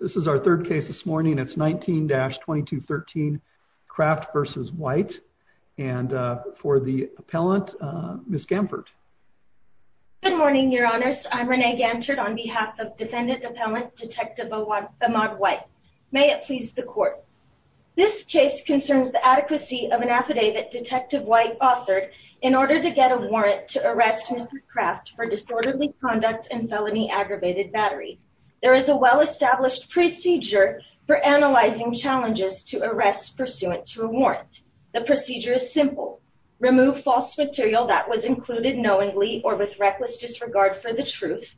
This is our third case this morning. It's 19-2213 Kraft v. White and for the appellant, Ms. Gampert. Good morning, Your Honors. I'm Renee Gampert on behalf of defendant appellant Detective Ahmaud White. May it please the court. This case concerns the adequacy of an affidavit Detective White authored in order to get a warrant to arrest Mr. Kraft for disorderly conduct and felony aggravated battery. There is a well-established procedure for analyzing challenges to arrest pursuant to a warrant. The procedure is simple. Remove false material that was included knowingly or with reckless disregard for the truth,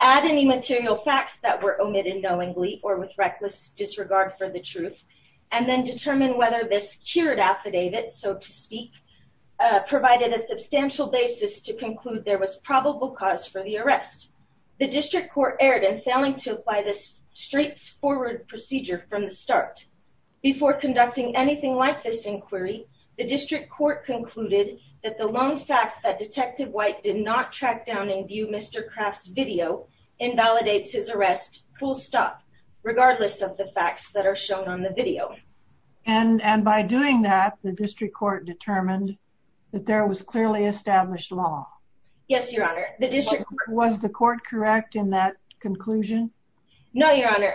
add any material facts that were omitted knowingly or with reckless disregard for the truth, and then determine whether this cured affidavit, so to speak, provided a substantial basis to conclude there was probable cause for the arrest. The district court erred in failing to apply this straightforward procedure from the start. Before conducting anything like this inquiry, the district court concluded that the lone fact that Detective White did not track down and view Mr. Kraft's video invalidates his arrest full stop, regardless of the facts that are shown on the video. And by doing that, the district court determined that there was clearly established law. Yes, Your Honor. The court correct in that conclusion? No, Your Honor.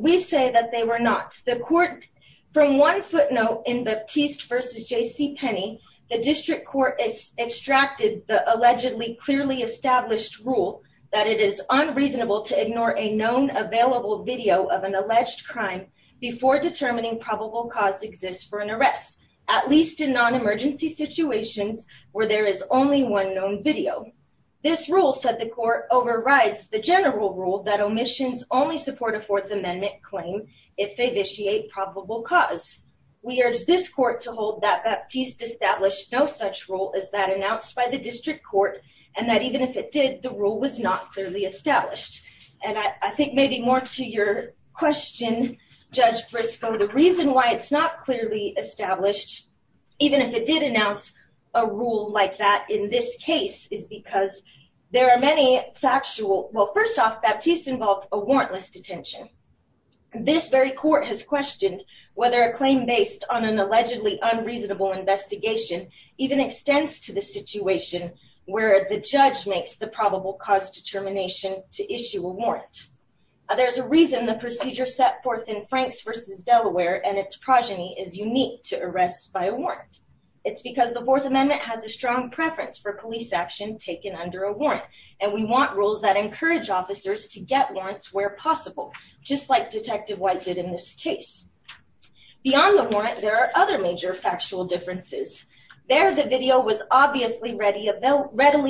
We say that they were not. The court, from one footnote in Baptiste v. J.C. Penney, the district court extracted the allegedly clearly established rule that it is unreasonable to ignore a known available video of an alleged crime before determining probable cause exists for an arrest, at least in non-emergency situations where there is only one known video. This rule, said the court, overrides the general rule that omissions only support a Fourth Amendment claim if they vitiate probable cause. We urge this court to hold that Baptiste established no such rule as that announced by the district court, and that even if it did, the rule was not clearly established. And I think maybe more to your question, Judge Briscoe, the reason why it's not clearly established, even if it did announce a that in this case, is because there are many factual... Well, first off, Baptiste involved a warrantless detention. This very court has questioned whether a claim based on an allegedly unreasonable investigation even extends to the situation where the judge makes the probable cause determination to issue a warrant. There's a reason the procedure set forth in Franks v. Delaware and its progeny is unique to arrests by a warrant. It's because the Fourth Amendment is a common preference for police action taken under a warrant, and we want rules that encourage officers to get warrants where possible, just like Detective White did in this case. Beyond the warrant, there are other major factual differences. There, the video was obviously readily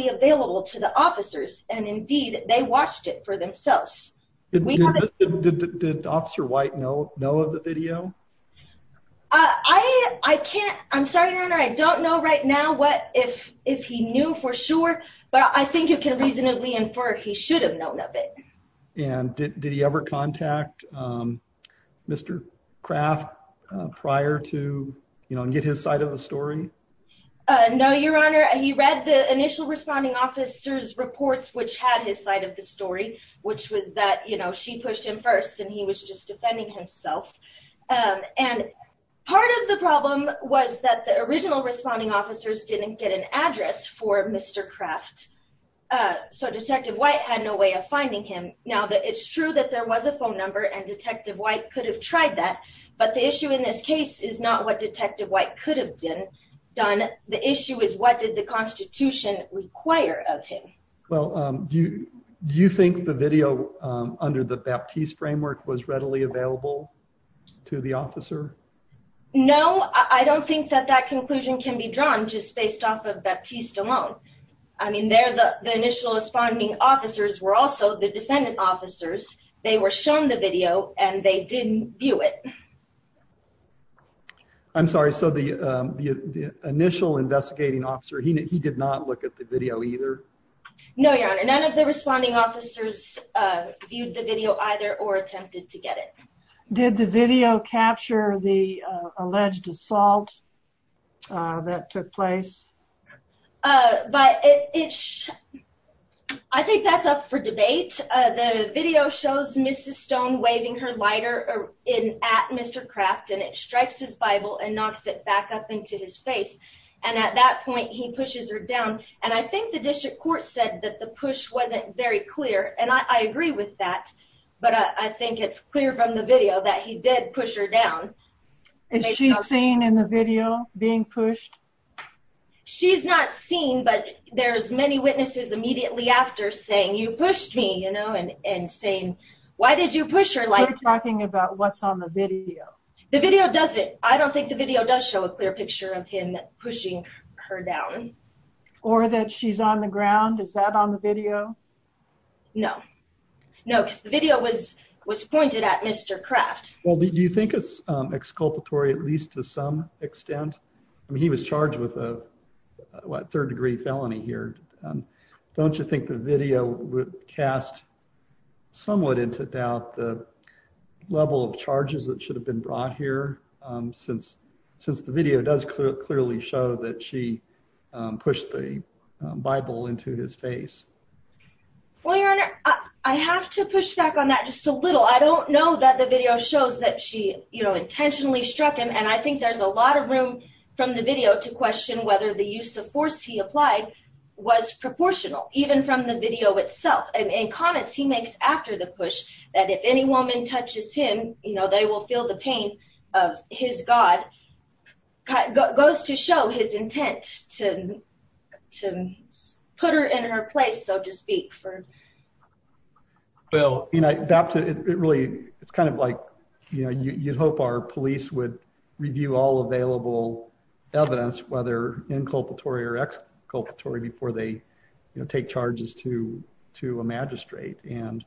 available to the officers, and indeed, they watched it for themselves. Did Officer White know of the video? I can't... I'm sorry, Your Honor, I don't know right now what if he knew for sure, but I think you can reasonably infer he should have known of it. And did he ever contact Mr. Kraft prior to, you know, get his side of the story? No, Your Honor. He read the initial responding officer's reports, which had his side of the story, which was that, you know, she pushed him first and he was just defending himself. And part of the problem was that the original responding officers didn't get an address for Mr. Kraft, so Detective White had no way of finding him. Now, it's true that there was a phone number and Detective White could have tried that, but the issue in this case is not what Detective White could have done. The issue is what did the Constitution require of him? Well, do you think the Baptiste framework was readily available to the officer? No, I don't think that that conclusion can be drawn just based off of Baptiste alone. I mean, there, the initial responding officers were also the defendant officers. They were shown the video and they didn't view it. I'm sorry, so the initial investigating officer, he did not look at the video either? No, Your Honor, none of the responding officers viewed the video either or attempted to get it. Did the video capture the alleged assault that took place? I think that's up for debate. The video shows Mrs. Stone waving her lighter at Mr. Kraft and it strikes his Bible and knocks it back up into his face, and at that point he wasn't very clear, and I agree with that, but I think it's clear from the video that he did push her down. Is she seen in the video being pushed? She's not seen, but there's many witnesses immediately after saying, you pushed me, you know, and saying, why did you push her like that? We're talking about what's on the video. The video doesn't. I don't think the video does show a clear picture of him pushing her down. Or that she's on the ground? Is that on the video? No. No, because the video was pointed at Mr. Kraft. Well, do you think it's exculpatory at least to some extent? I mean, he was charged with a third-degree felony here. Don't you think the video would cast somewhat into doubt the level of charges that should have been brought here, since the video does clearly show that she pushed the Bible into his face? Well, your honor, I have to push back on that just a little. I don't know that the video shows that she, you know, intentionally struck him, and I think there's a lot of room from the video to question whether the use of force he applied was proportional, even from the video itself. And in comments he makes after the push that if any woman touches him, you know, they will feel the pain of his God, goes to show his intent to put her in her place, so to speak. Well, you know, it really, it's kind of like, you know, you'd hope our police would review all available evidence, whether inculpatory or exculpatory, before they take charges to a magistrate. And,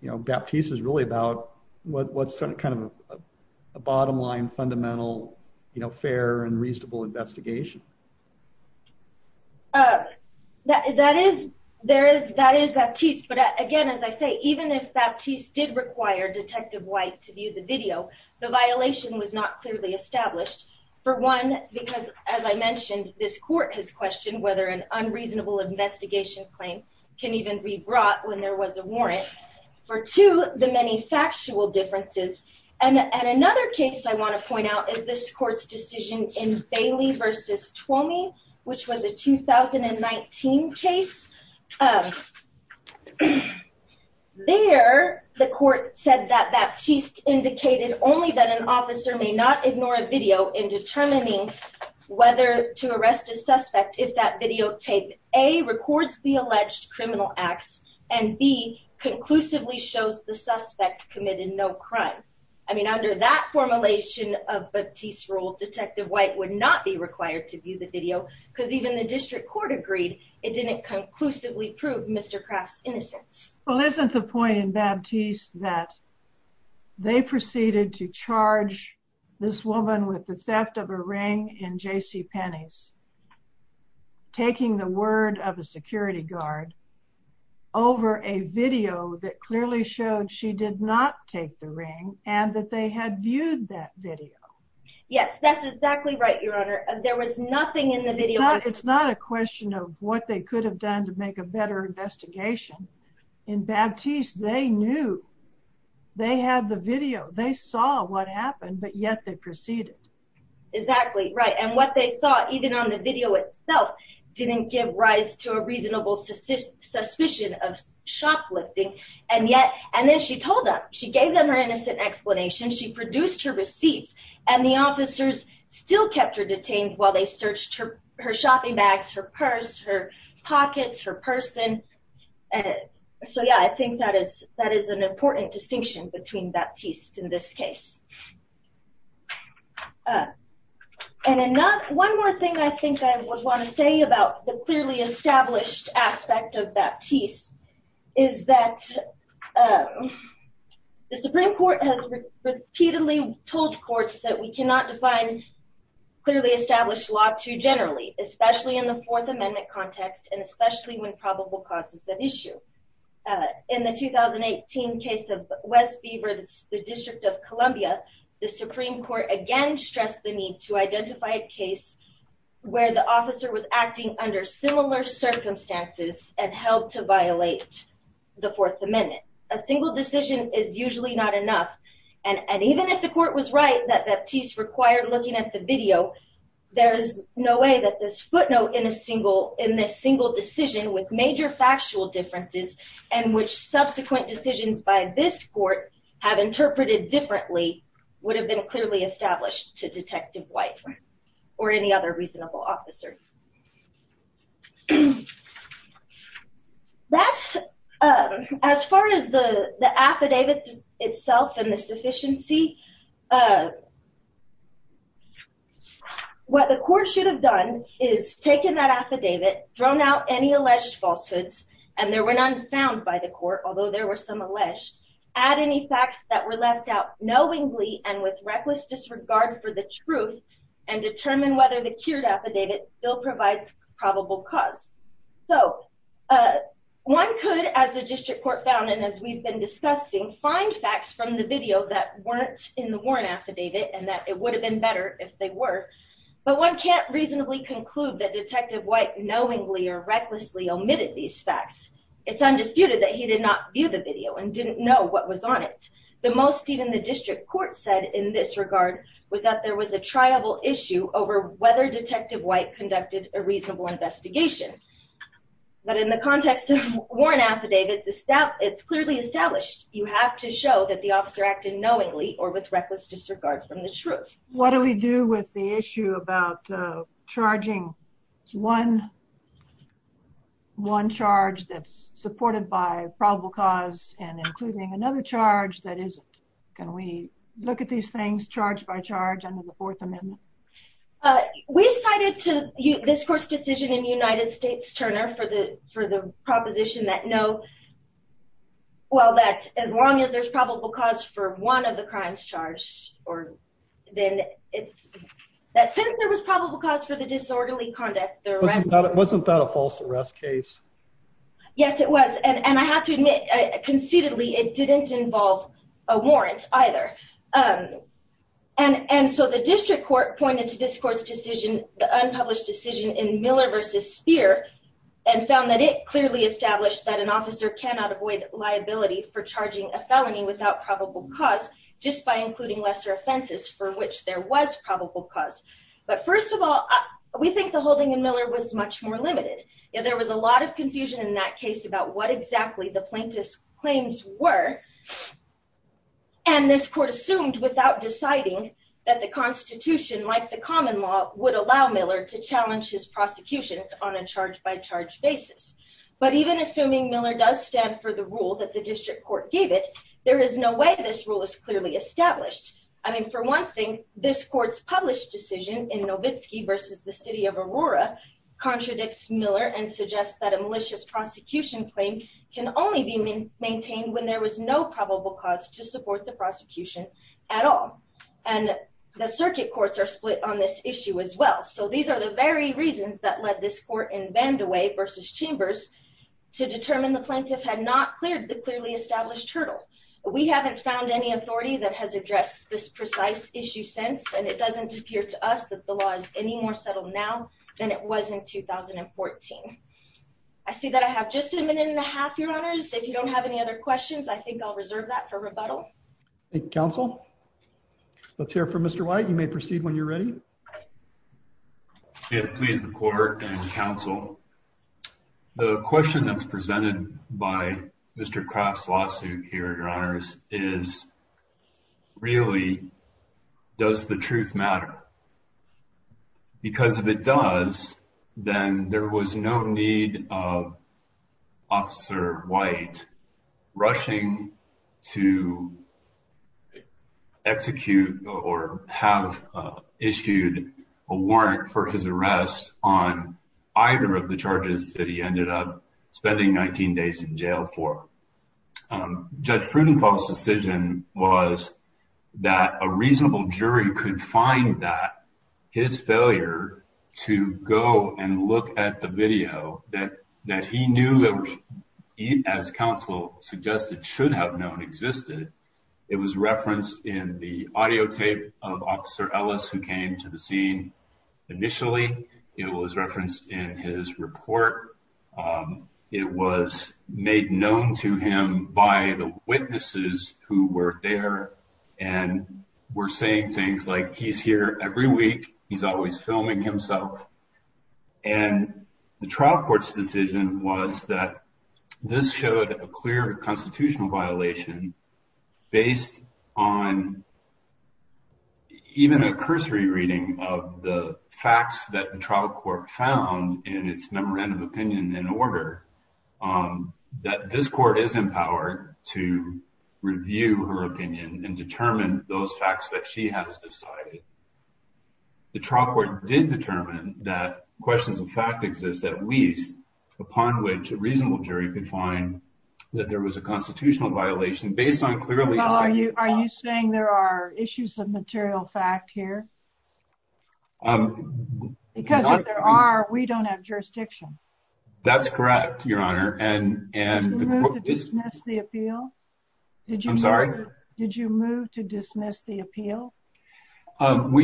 you know, Baptiste is really about what's kind of a bottom line, fundamental, you know, fair and reasonable investigation. That is, there is, that is Baptiste, but again, as I say, even if Baptiste did require Detective White to view the video, the violation was not clearly established. For one, because as I mentioned, this court has questioned whether an unreasonable investigation claim can even be brought when there was a warrant. For two, the many factual differences. And another case I want to point out is this court's decision in Bailey versus Twomey, which was a 2019 case. There, the court said that Baptiste indicated only that an officer may not ignore a video in determining whether to arrest a suspect if that videotape, A, conclusively shows the suspect committed no crime. I mean, under that formulation of Baptiste's rule, Detective White would not be required to view the video, because even the district court agreed it didn't conclusively prove Mr. Kraft's innocence. Well, isn't the point in Baptiste that they proceeded to charge this woman with the theft of a ring in JCPenney's, taking the word of a security guard, over a video that clearly showed she did not take the ring, and that they had viewed that video? Yes, that's exactly right, Your Honor. There was nothing in the video. It's not a question of what they could have done to make a better investigation. In Baptiste, they knew. They had the video. They saw what happened, but yet they proceeded. Exactly, right. And what they saw, even on the video itself, didn't give rise to a reasonable suspicion of shoplifting, and yet, and then she told them. She gave them her innocent explanation. She produced her receipts, and the officers still kept her detained while they searched her shopping bags, her purse, her pockets, her person. So, yeah, I think that is an important distinction between Baptiste in this I think I want to say about the clearly established aspect of Baptiste is that the Supreme Court has repeatedly told courts that we cannot define clearly established law too generally, especially in the Fourth Amendment context, and especially when probable cause is an issue. In the 2018 case of Wes Beaver, the District of Columbia, the Supreme Court again stressed the need to where the officer was acting under similar circumstances and held to violate the Fourth Amendment. A single decision is usually not enough, and even if the court was right that Baptiste required looking at the video, there is no way that this footnote in a single, in this single decision with major factual differences, and which subsequent decisions by this court have interpreted differently, would have been clearly established to Detective White or any other reasonable officer. As far as the affidavits itself and the sufficiency, what the court should have done is taken that affidavit, thrown out any alleged falsehoods, and there were none found by the court, although there were some alleged, add any facts that were left out knowingly and with the cured affidavit still provides probable cause. So one could, as the district court found and as we've been discussing, find facts from the video that weren't in the Warren affidavit and that it would have been better if they were, but one can't reasonably conclude that Detective White knowingly or recklessly omitted these facts. It's undisputed that he did not view the video and didn't know what was on it. The most even the district court said in this regard was that there was a triable issue over whether Detective White conducted a reasonable investigation, but in the context of Warren affidavits, it's clearly established you have to show that the officer acted knowingly or with reckless disregard from the truth. What do we do with the issue about charging one charge that's supported by probable cause and including another charge that isn't? Can we look at these things charge by charge under the Fourth Amendment? We cited to this court's decision in United States, Turner, for the proposition that no, well that as long as there's probable cause for one of the crimes charged or then it's that since there was probable cause for the disorderly conduct, wasn't that a false arrest case? Yes it was and I have to admit conceitedly it didn't involve a false arrest. The district court pointed to this court's decision, the unpublished decision, in Miller v. Speer and found that it clearly established that an officer cannot avoid liability for charging a felony without probable cause just by including lesser offenses for which there was probable cause. But first of all, we think the holding in Miller was much more limited. There was a lot of confusion in that case about what exactly the plaintiff's charges were, and this court assumed without deciding that the Constitution, like the common law, would allow Miller to challenge his prosecutions on a charge by charge basis. But even assuming Miller does stand for the rule that the district court gave it, there is no way this rule is clearly established. I mean for one thing, this court's published decision in Novitski v. The City of Aurora contradicts Miller and suggests that a malicious prosecution claim can only be maintained when there was no probable cause to support the prosecution at all. And the circuit courts are split on this issue as well, so these are the very reasons that led this court in Vandewey v. Chambers to determine the plaintiff had not cleared the clearly established hurdle. We haven't found any authority that has addressed this precise issue since, and it doesn't appear to us that the law is any more settled now than it was in 2014. I see that I have just a minute and a half, Your Honors. If you don't have any other questions, I think I'll reserve that for rebuttal. Thank you, counsel. Let's hear from Mr. White. You may proceed when you're ready. May it please the court and counsel, the question that's presented by Mr. Kraft's lawsuit here, Your Honors, is really, does the truth matter? Because if it does, then there was no need of Officer White rushing to execute or have issued a warrant for his arrest on either of the charges that he ended up spending 19 days in jail for. Judge Prudenthal's decision was that a reasonable jury could find that his failure to go and look at the video that he knew, as counsel suggested, should have known existed. It was referenced in the audio tape of Officer Ellis, who came to the scene initially. It was referenced in his report. It was made known to him by the witnesses who were there and were saying things like, he's here every week, he's always filming himself. And the trial court's decision was that this showed a clear constitutional violation based on even a cursory reading of the facts that the trial court found in its memorandum of opinion and order that this court is empowered to review her opinion and determine those facts that she has decided. The trial court did determine that questions of fact exist at least upon which a reasonable jury could find that there was a constitutional violation based on clearly... Well, are you saying there are issues of material fact here? Because if there are, we don't have jurisdiction. That's correct, Your Honor. And did you move to dismiss the appeal? We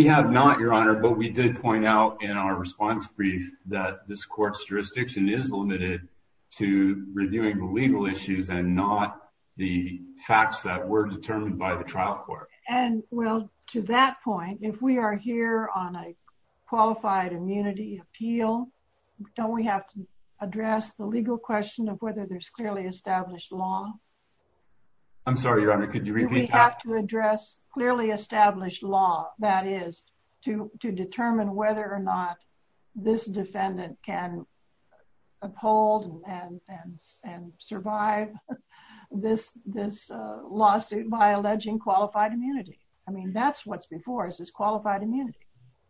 have not, Your Honor, but we did point out in our response brief that this court's jurisdiction is limited to reviewing the legal issues and not the facts that were determined by the trial court. And well, to that point, if we are here on a qualified immunity appeal, don't we have to address the legal question of whether there's clearly established law? I'm sorry, Your Honor, could you repeat that? We have to address clearly established law, that is, to determine whether or not this defendant can uphold and survive this lawsuit by alleging qualified immunity. I mean, that's what's before us, is qualified immunity.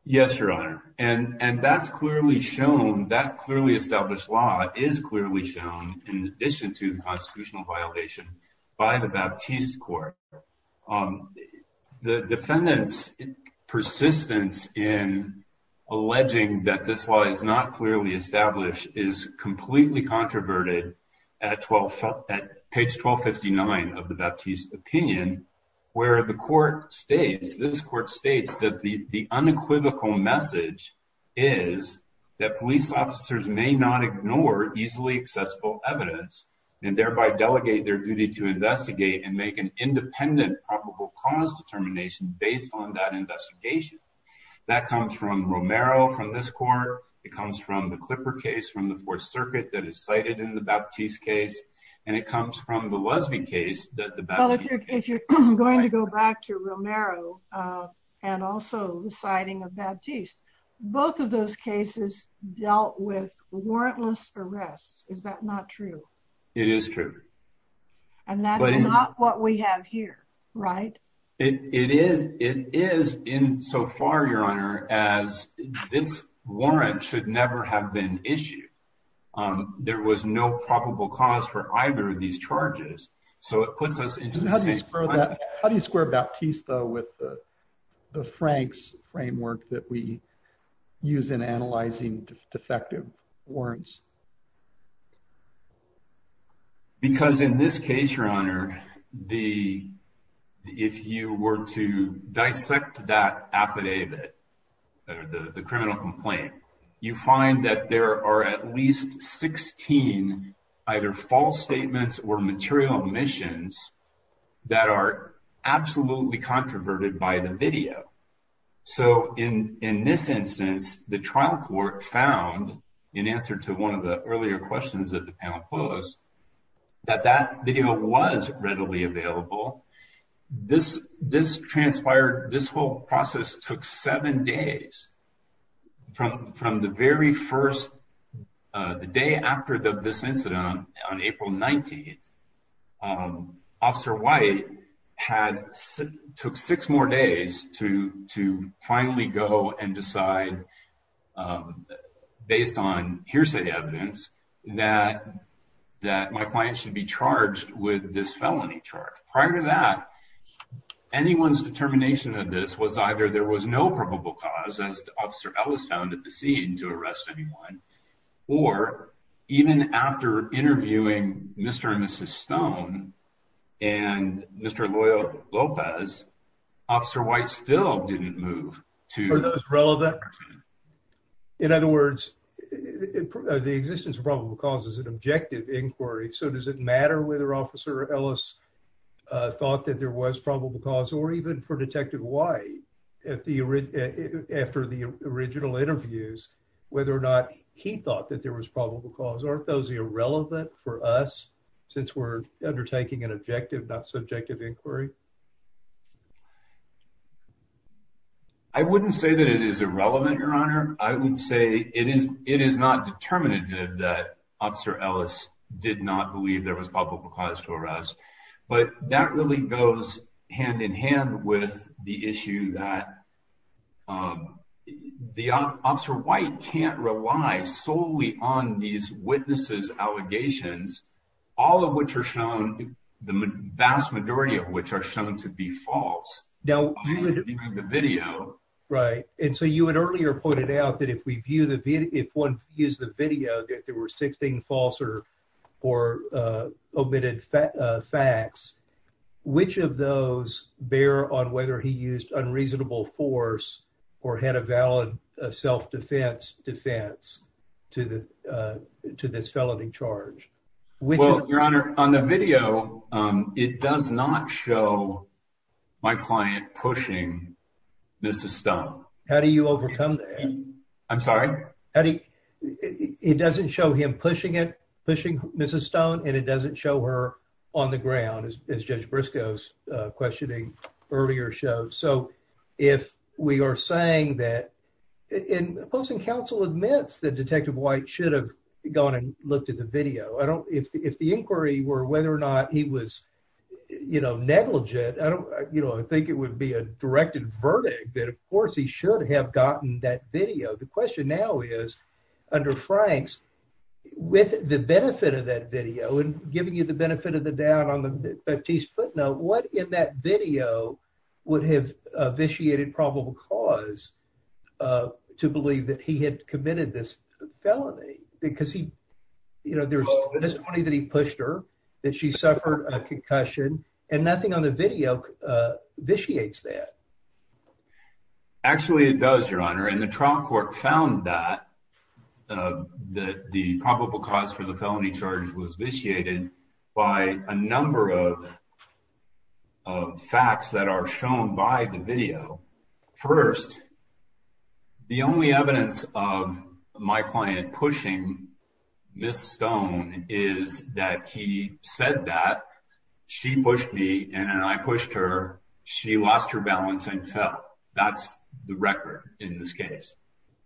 Yes, Your Honor. And that's clearly shown, that clearly established law is clearly shown in addition to the constitutional violation by the Baptiste court. The defendant's persistence in alleging that this law is not clearly established is completely controverted at page 1259 of the Baptiste opinion, where the court states, this court states that the unequivocal message is that police officers may not ignore easily accessible evidence and thereby delegate their duty to investigate and make an independent probable cause determination based on that investigation. That comes from Romero, from this court, it comes from the Clipper case from the Fourth Circuit that is cited in the Baptiste case, and it comes from the Clipper case. Well, if you're going to go back to Romero and also the citing of Baptiste, both of those cases dealt with warrantless arrests, is that not true? It is true. And that's not what we have here, right? It is. It is insofar, Your Honor, as this warrant should never have been issued. There was no probable cause for either of these charges. So it puts us into the same. How do you square Baptiste, though, with the Franks framework that we use in analyzing defective warrants? Because in this case, Your Honor, if you were to dissect that affidavit, the trial court found at least 16 either false statements or material omissions that are absolutely controverted by the video. So in this instance, the trial court found, in answer to one of the earlier questions that the panel posed, that that video was readily available. This transpired, this whole process took seven days from the very first the day after this incident on April 19th. Officer White took six more days to finally go and decide, based on hearsay evidence, that my client should be charged with this felony charge. Prior to that, anyone's determination of this was either there was no probable cause, as Officer Ellis found at the scene, to arrest anyone, or even after interviewing Mr. and Mrs. Stone and Mr. López, Officer White still didn't move to- Were those relevant? In other words, the existence of probable cause is an objective inquiry. So does it matter whether Officer Ellis thought that there was probable cause, or even for Detective White, after the original interviews, whether or not he thought that there was probable cause? Are those irrelevant for us, since we're undertaking an objective, not subjective inquiry? I wouldn't say that it is irrelevant, Your Honor. I would say it is not determinative that Officer Ellis did not believe there was probable cause to arrest. But that really goes hand-in-hand with the issue that the Officer White can't rely solely on these witnesses' allegations, all of which are shown, the vast majority of which are shown to be false, behind the video. Right. And so you had earlier pointed out that if one views the video, that there were 16 false or omitted facts. Which of those bear on whether he used unreasonable force or had a valid self-defense defense to this felony charge? Well, Your Honor, on the video, it does not show my client pushing Mrs. Stone. How do you overcome that? I'm sorry? It doesn't show him pushing it, pushing Mrs. Stone, and it doesn't show her on the ground, as Judge Briscoe's questioning earlier showed. So if we are saying that—and the Posting Council admits that Detective White should have gone and looked at the video. I don't—if the inquiry were whether or not he was, you know, negligent, you know, I think it would be a directed verdict that, of course, he should have gotten that video. The question now is, under Frank's, with the benefit of that video and giving you the benefit of the doubt on the Batiste footnote, what in that video would have vitiated probable cause to believe that he had committed this felony? Because he, you know, there's testimony that he pushed her, that she suffered a concussion, and nothing on the video vitiates that. Actually, it does, Your Honor. And the trial court found that the probable cause for the felony charge was vitiated by a number of facts that are shown by the video. First, the only evidence of my client pushing Ms. Stone is that he said that, she pushed me, and then I pushed her. She lost her balance and fell. That's the record in this case.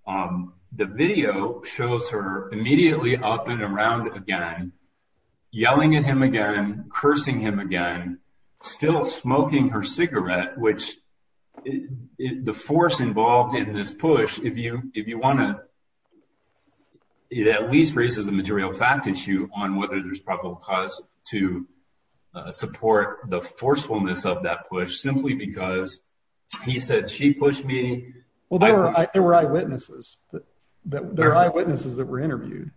The video shows her immediately up and around again, yelling at him again, cursing him again, still smoking her cigarette, which the force involved in this push, if you want to—it at least raises a material fact issue on whether there's probable cause to support the forcefulness of that push, simply because he said, she pushed me. Well, there were eyewitnesses that were interviewed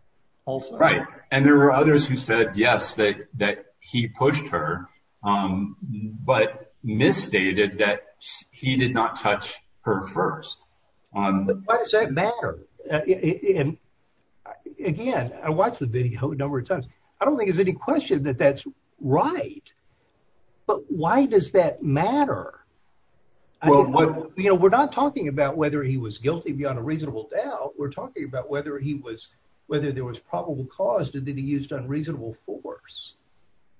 also. Right. And there were others who said, yes, that he pushed her, but misstated that he did not touch her first. Why does that matter? Again, I watched the video a number of times. I don't think there's any question that that's right. But why does that matter? You know, we're not talking about whether he was guilty beyond a reasonable doubt. We're talking about whether he was—whether there was probable cause that he used unreasonable force.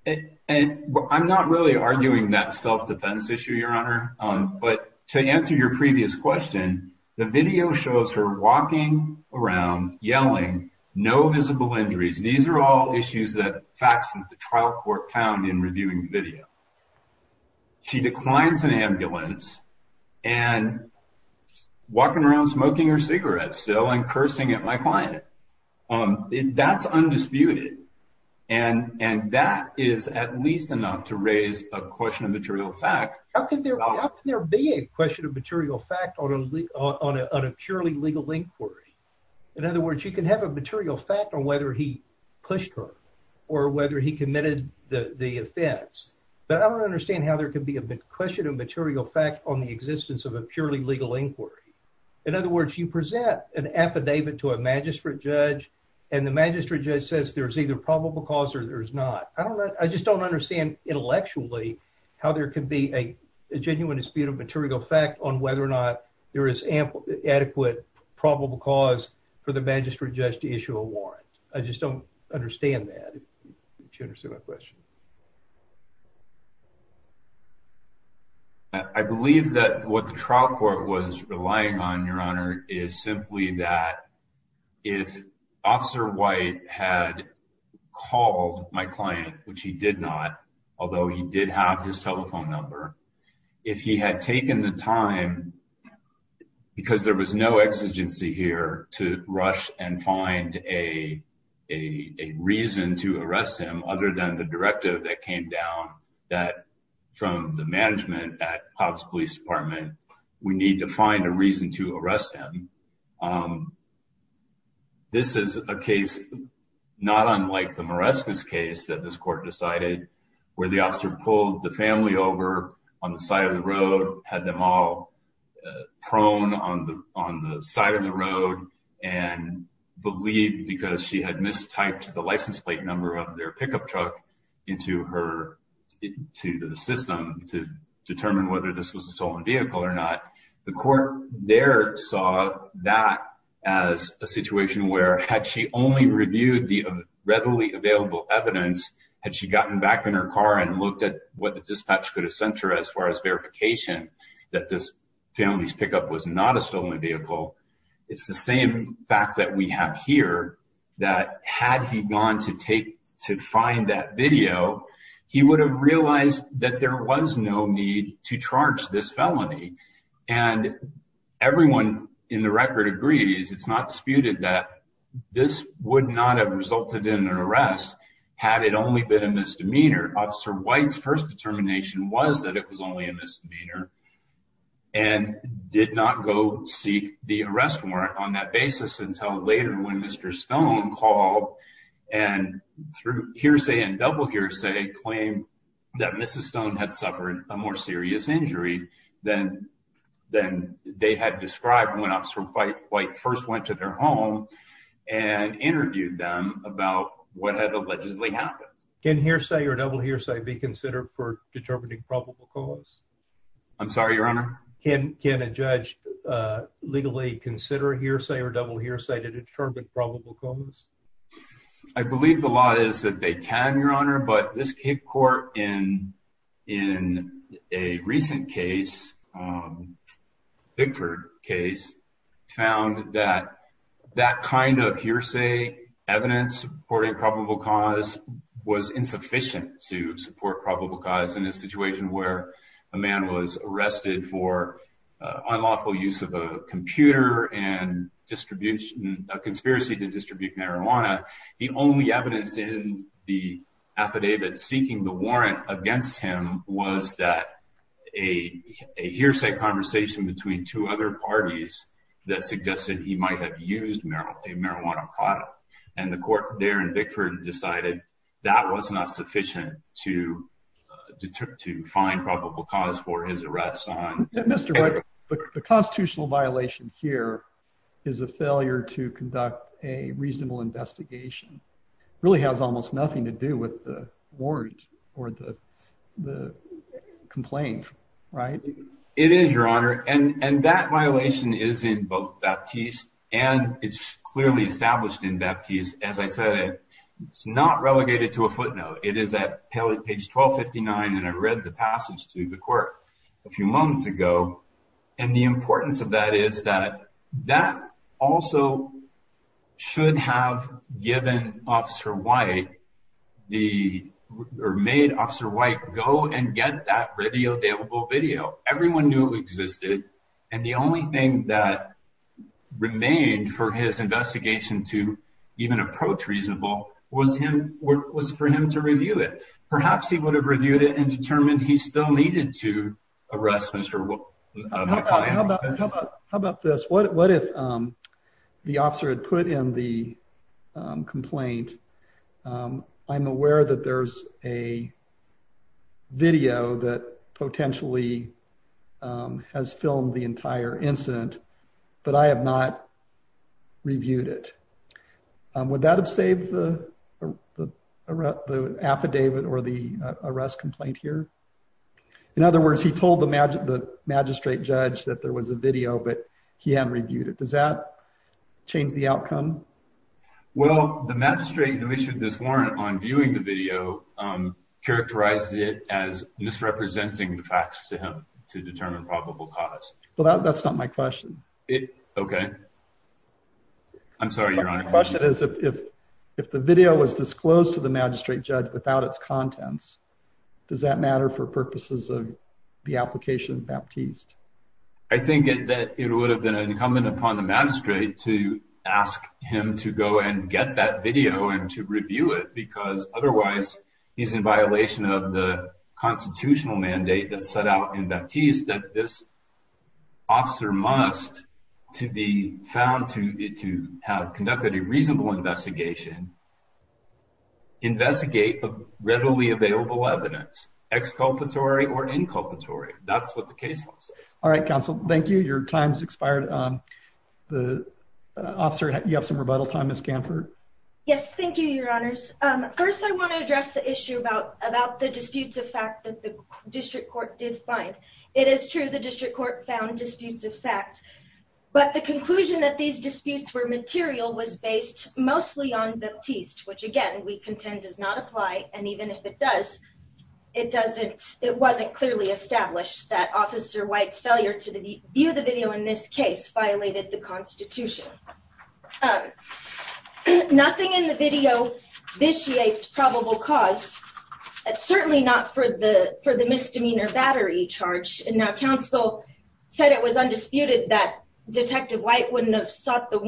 And I'm not really arguing that self-defense issue, Your Honor. But to answer your previous question, the video shows her walking around, yelling, no visible injuries. These are all issues that—facts that the trial court found in reviewing the video. She declines an ambulance and walking around smoking her cigarette still and cursing at my client. That's undisputed. And that is at least enough to raise a question of material fact. How can there be a question of material fact on a purely legal inquiry? In other words, you can have a material fact on whether he pushed her or whether he used self-defense. But I don't understand how there could be a question of material fact on the existence of a purely legal inquiry. In other words, you present an affidavit to a magistrate judge and the magistrate judge says there's either probable cause or there's not. I don't know. I just don't understand intellectually how there could be a genuine dispute of material fact on whether or not there is adequate probable cause for the magistrate judge to issue a warrant. I just don't understand that. Do you understand my question? I believe that what the trial court was relying on, Your Honor, is simply that if Officer White had called my client, which he did not, although he did have his telephone number, if he had taken the time because there was no exigency here to rush and find a reason to arrest him, the court came down that from the management at Hobbs Police Department, we need to find a reason to arrest him. This is a case not unlike the Marescas case that this court decided, where the officer pulled the family over on the side of the road, had them all prone on the side of the road, and believed because she had mistyped the license plate number of their pickup truck into the system to determine whether this was a stolen vehicle or not. The court there saw that as a situation where had she only reviewed the readily available evidence, had she gotten back in her car and looked at what the dispatch could have sent her as far as verification that this family's pickup was not a stolen vehicle, it's the that video, he would have realized that there was no need to charge this felony. And everyone in the record agrees, it's not disputed that this would not have resulted in an arrest had it only been a misdemeanor. Officer White's first determination was that it was only a misdemeanor and did not go seek the arrest warrant on that basis until later when Mr. Stone called and through hearsay and double hearsay claimed that Mrs. Stone had suffered a more serious injury than they had described when Officer White first went to their home and interviewed them about what had allegedly happened. Can hearsay or double hearsay be considered for determining probable cause? I'm sorry, Your Honor? Can a judge legally consider hearsay or double hearsay to determine probable cause? I believe the law is that they can, Your Honor, but this court in a recent case, Bigford case, found that that kind of hearsay evidence supporting probable cause was insufficient to support probable cause in a situation where a man was arrested for unlawful use of a computer and distribution of conspiracy to distribute marijuana. The only evidence in the affidavit seeking the warrant against him was that a hearsay conversation between two other parties that suggested he might have used a marijuana product. And the court there in Bigford decided that was not sufficient to find probable cause for his arrest. Mr. Wright, the constitutional violation here is a failure to conduct a reasonable investigation. It really has almost nothing to do with the warrant or the complaint, right? It is, Your Honor, and that violation is in both Baptiste and it's clearly established in Baptiste. As I said, it's not relegated to a footnote. It is at page 1259. And I read the passage to the court a few months ago. And the importance of that is that that also should have given Officer White the or made Officer White go and get that readily available video. Everyone knew it existed. And the only thing that remained for his investigation to even approach reasonable was for him to review it. Perhaps he would have reviewed it and determined he still needed to arrest Mr. How about this? What if the officer had put in the complaint? I'm aware that there's a video that potentially has filmed the entire incident, but I have not reviewed it. Would that have saved the the the affidavit or the arrest complaint here? In other words, he told the magistrate judge that there was a video, but he hadn't reviewed it. Does that change the outcome? Well, the magistrate who issued this warrant on viewing the video characterized it as misrepresenting the facts to him to determine probable cause. Well, that's not my question. OK. I'm sorry. Your question is, if if the video was disclosed to the magistrate judge without its contents, does that matter for purposes of the application of Baptiste? I think that it would have been incumbent upon the magistrate to ask him to go and get that video and to review it, because otherwise he's in violation of the constitutional mandate that set out in Baptiste that this officer must to be found to have conducted a reasonable investigation. Investigate readily available evidence, exculpatory or inculpatory, that's what the case All right, counsel. Thank you. Your time's expired. The officer, you have some rebuttal time, Ms. Kanford. Yes, thank you, your honors. First, I want to address the issue about about the disputes of fact that the district court did find. It is true. The district court found disputes of fact, but the conclusion that these disputes were material was based mostly on Baptiste, which, again, we contend does not apply. And even if it does, it doesn't it wasn't clearly established that Officer White's failure to view the video in this case violated the Constitution. Nothing in the video vitiates probable cause, certainly not for the for the misdemeanor battery charge. And now counsel said it was undisputed that Detective White wouldn't have sought the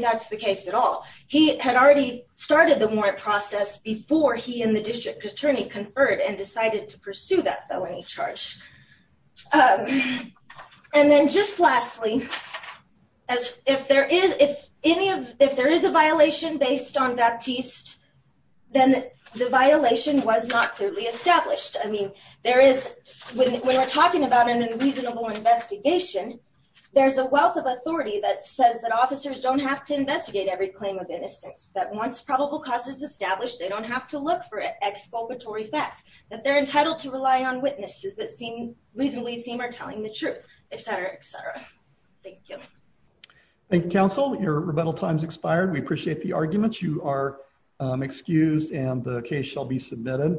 That's the case at all. He had already started the more process before he and the district attorney conferred and decided to pursue that felony charge. And then just lastly, as if there is if any of if there is a violation based on Baptiste, then the violation was not clearly established. I mean, there is when we're talking about an unreasonable investigation, there's a wealth of authority that says that officers don't have to investigate every claim of innocence that once probable cause is established, they don't have to look for it. Exculpatory facts that they're entitled to rely on witnesses that seem reasonably seem are telling the truth, et cetera, et cetera. Thank you. Thank you, counsel. Your rebuttal time's expired. We appreciate the arguments. You are excused and the case shall be submitted.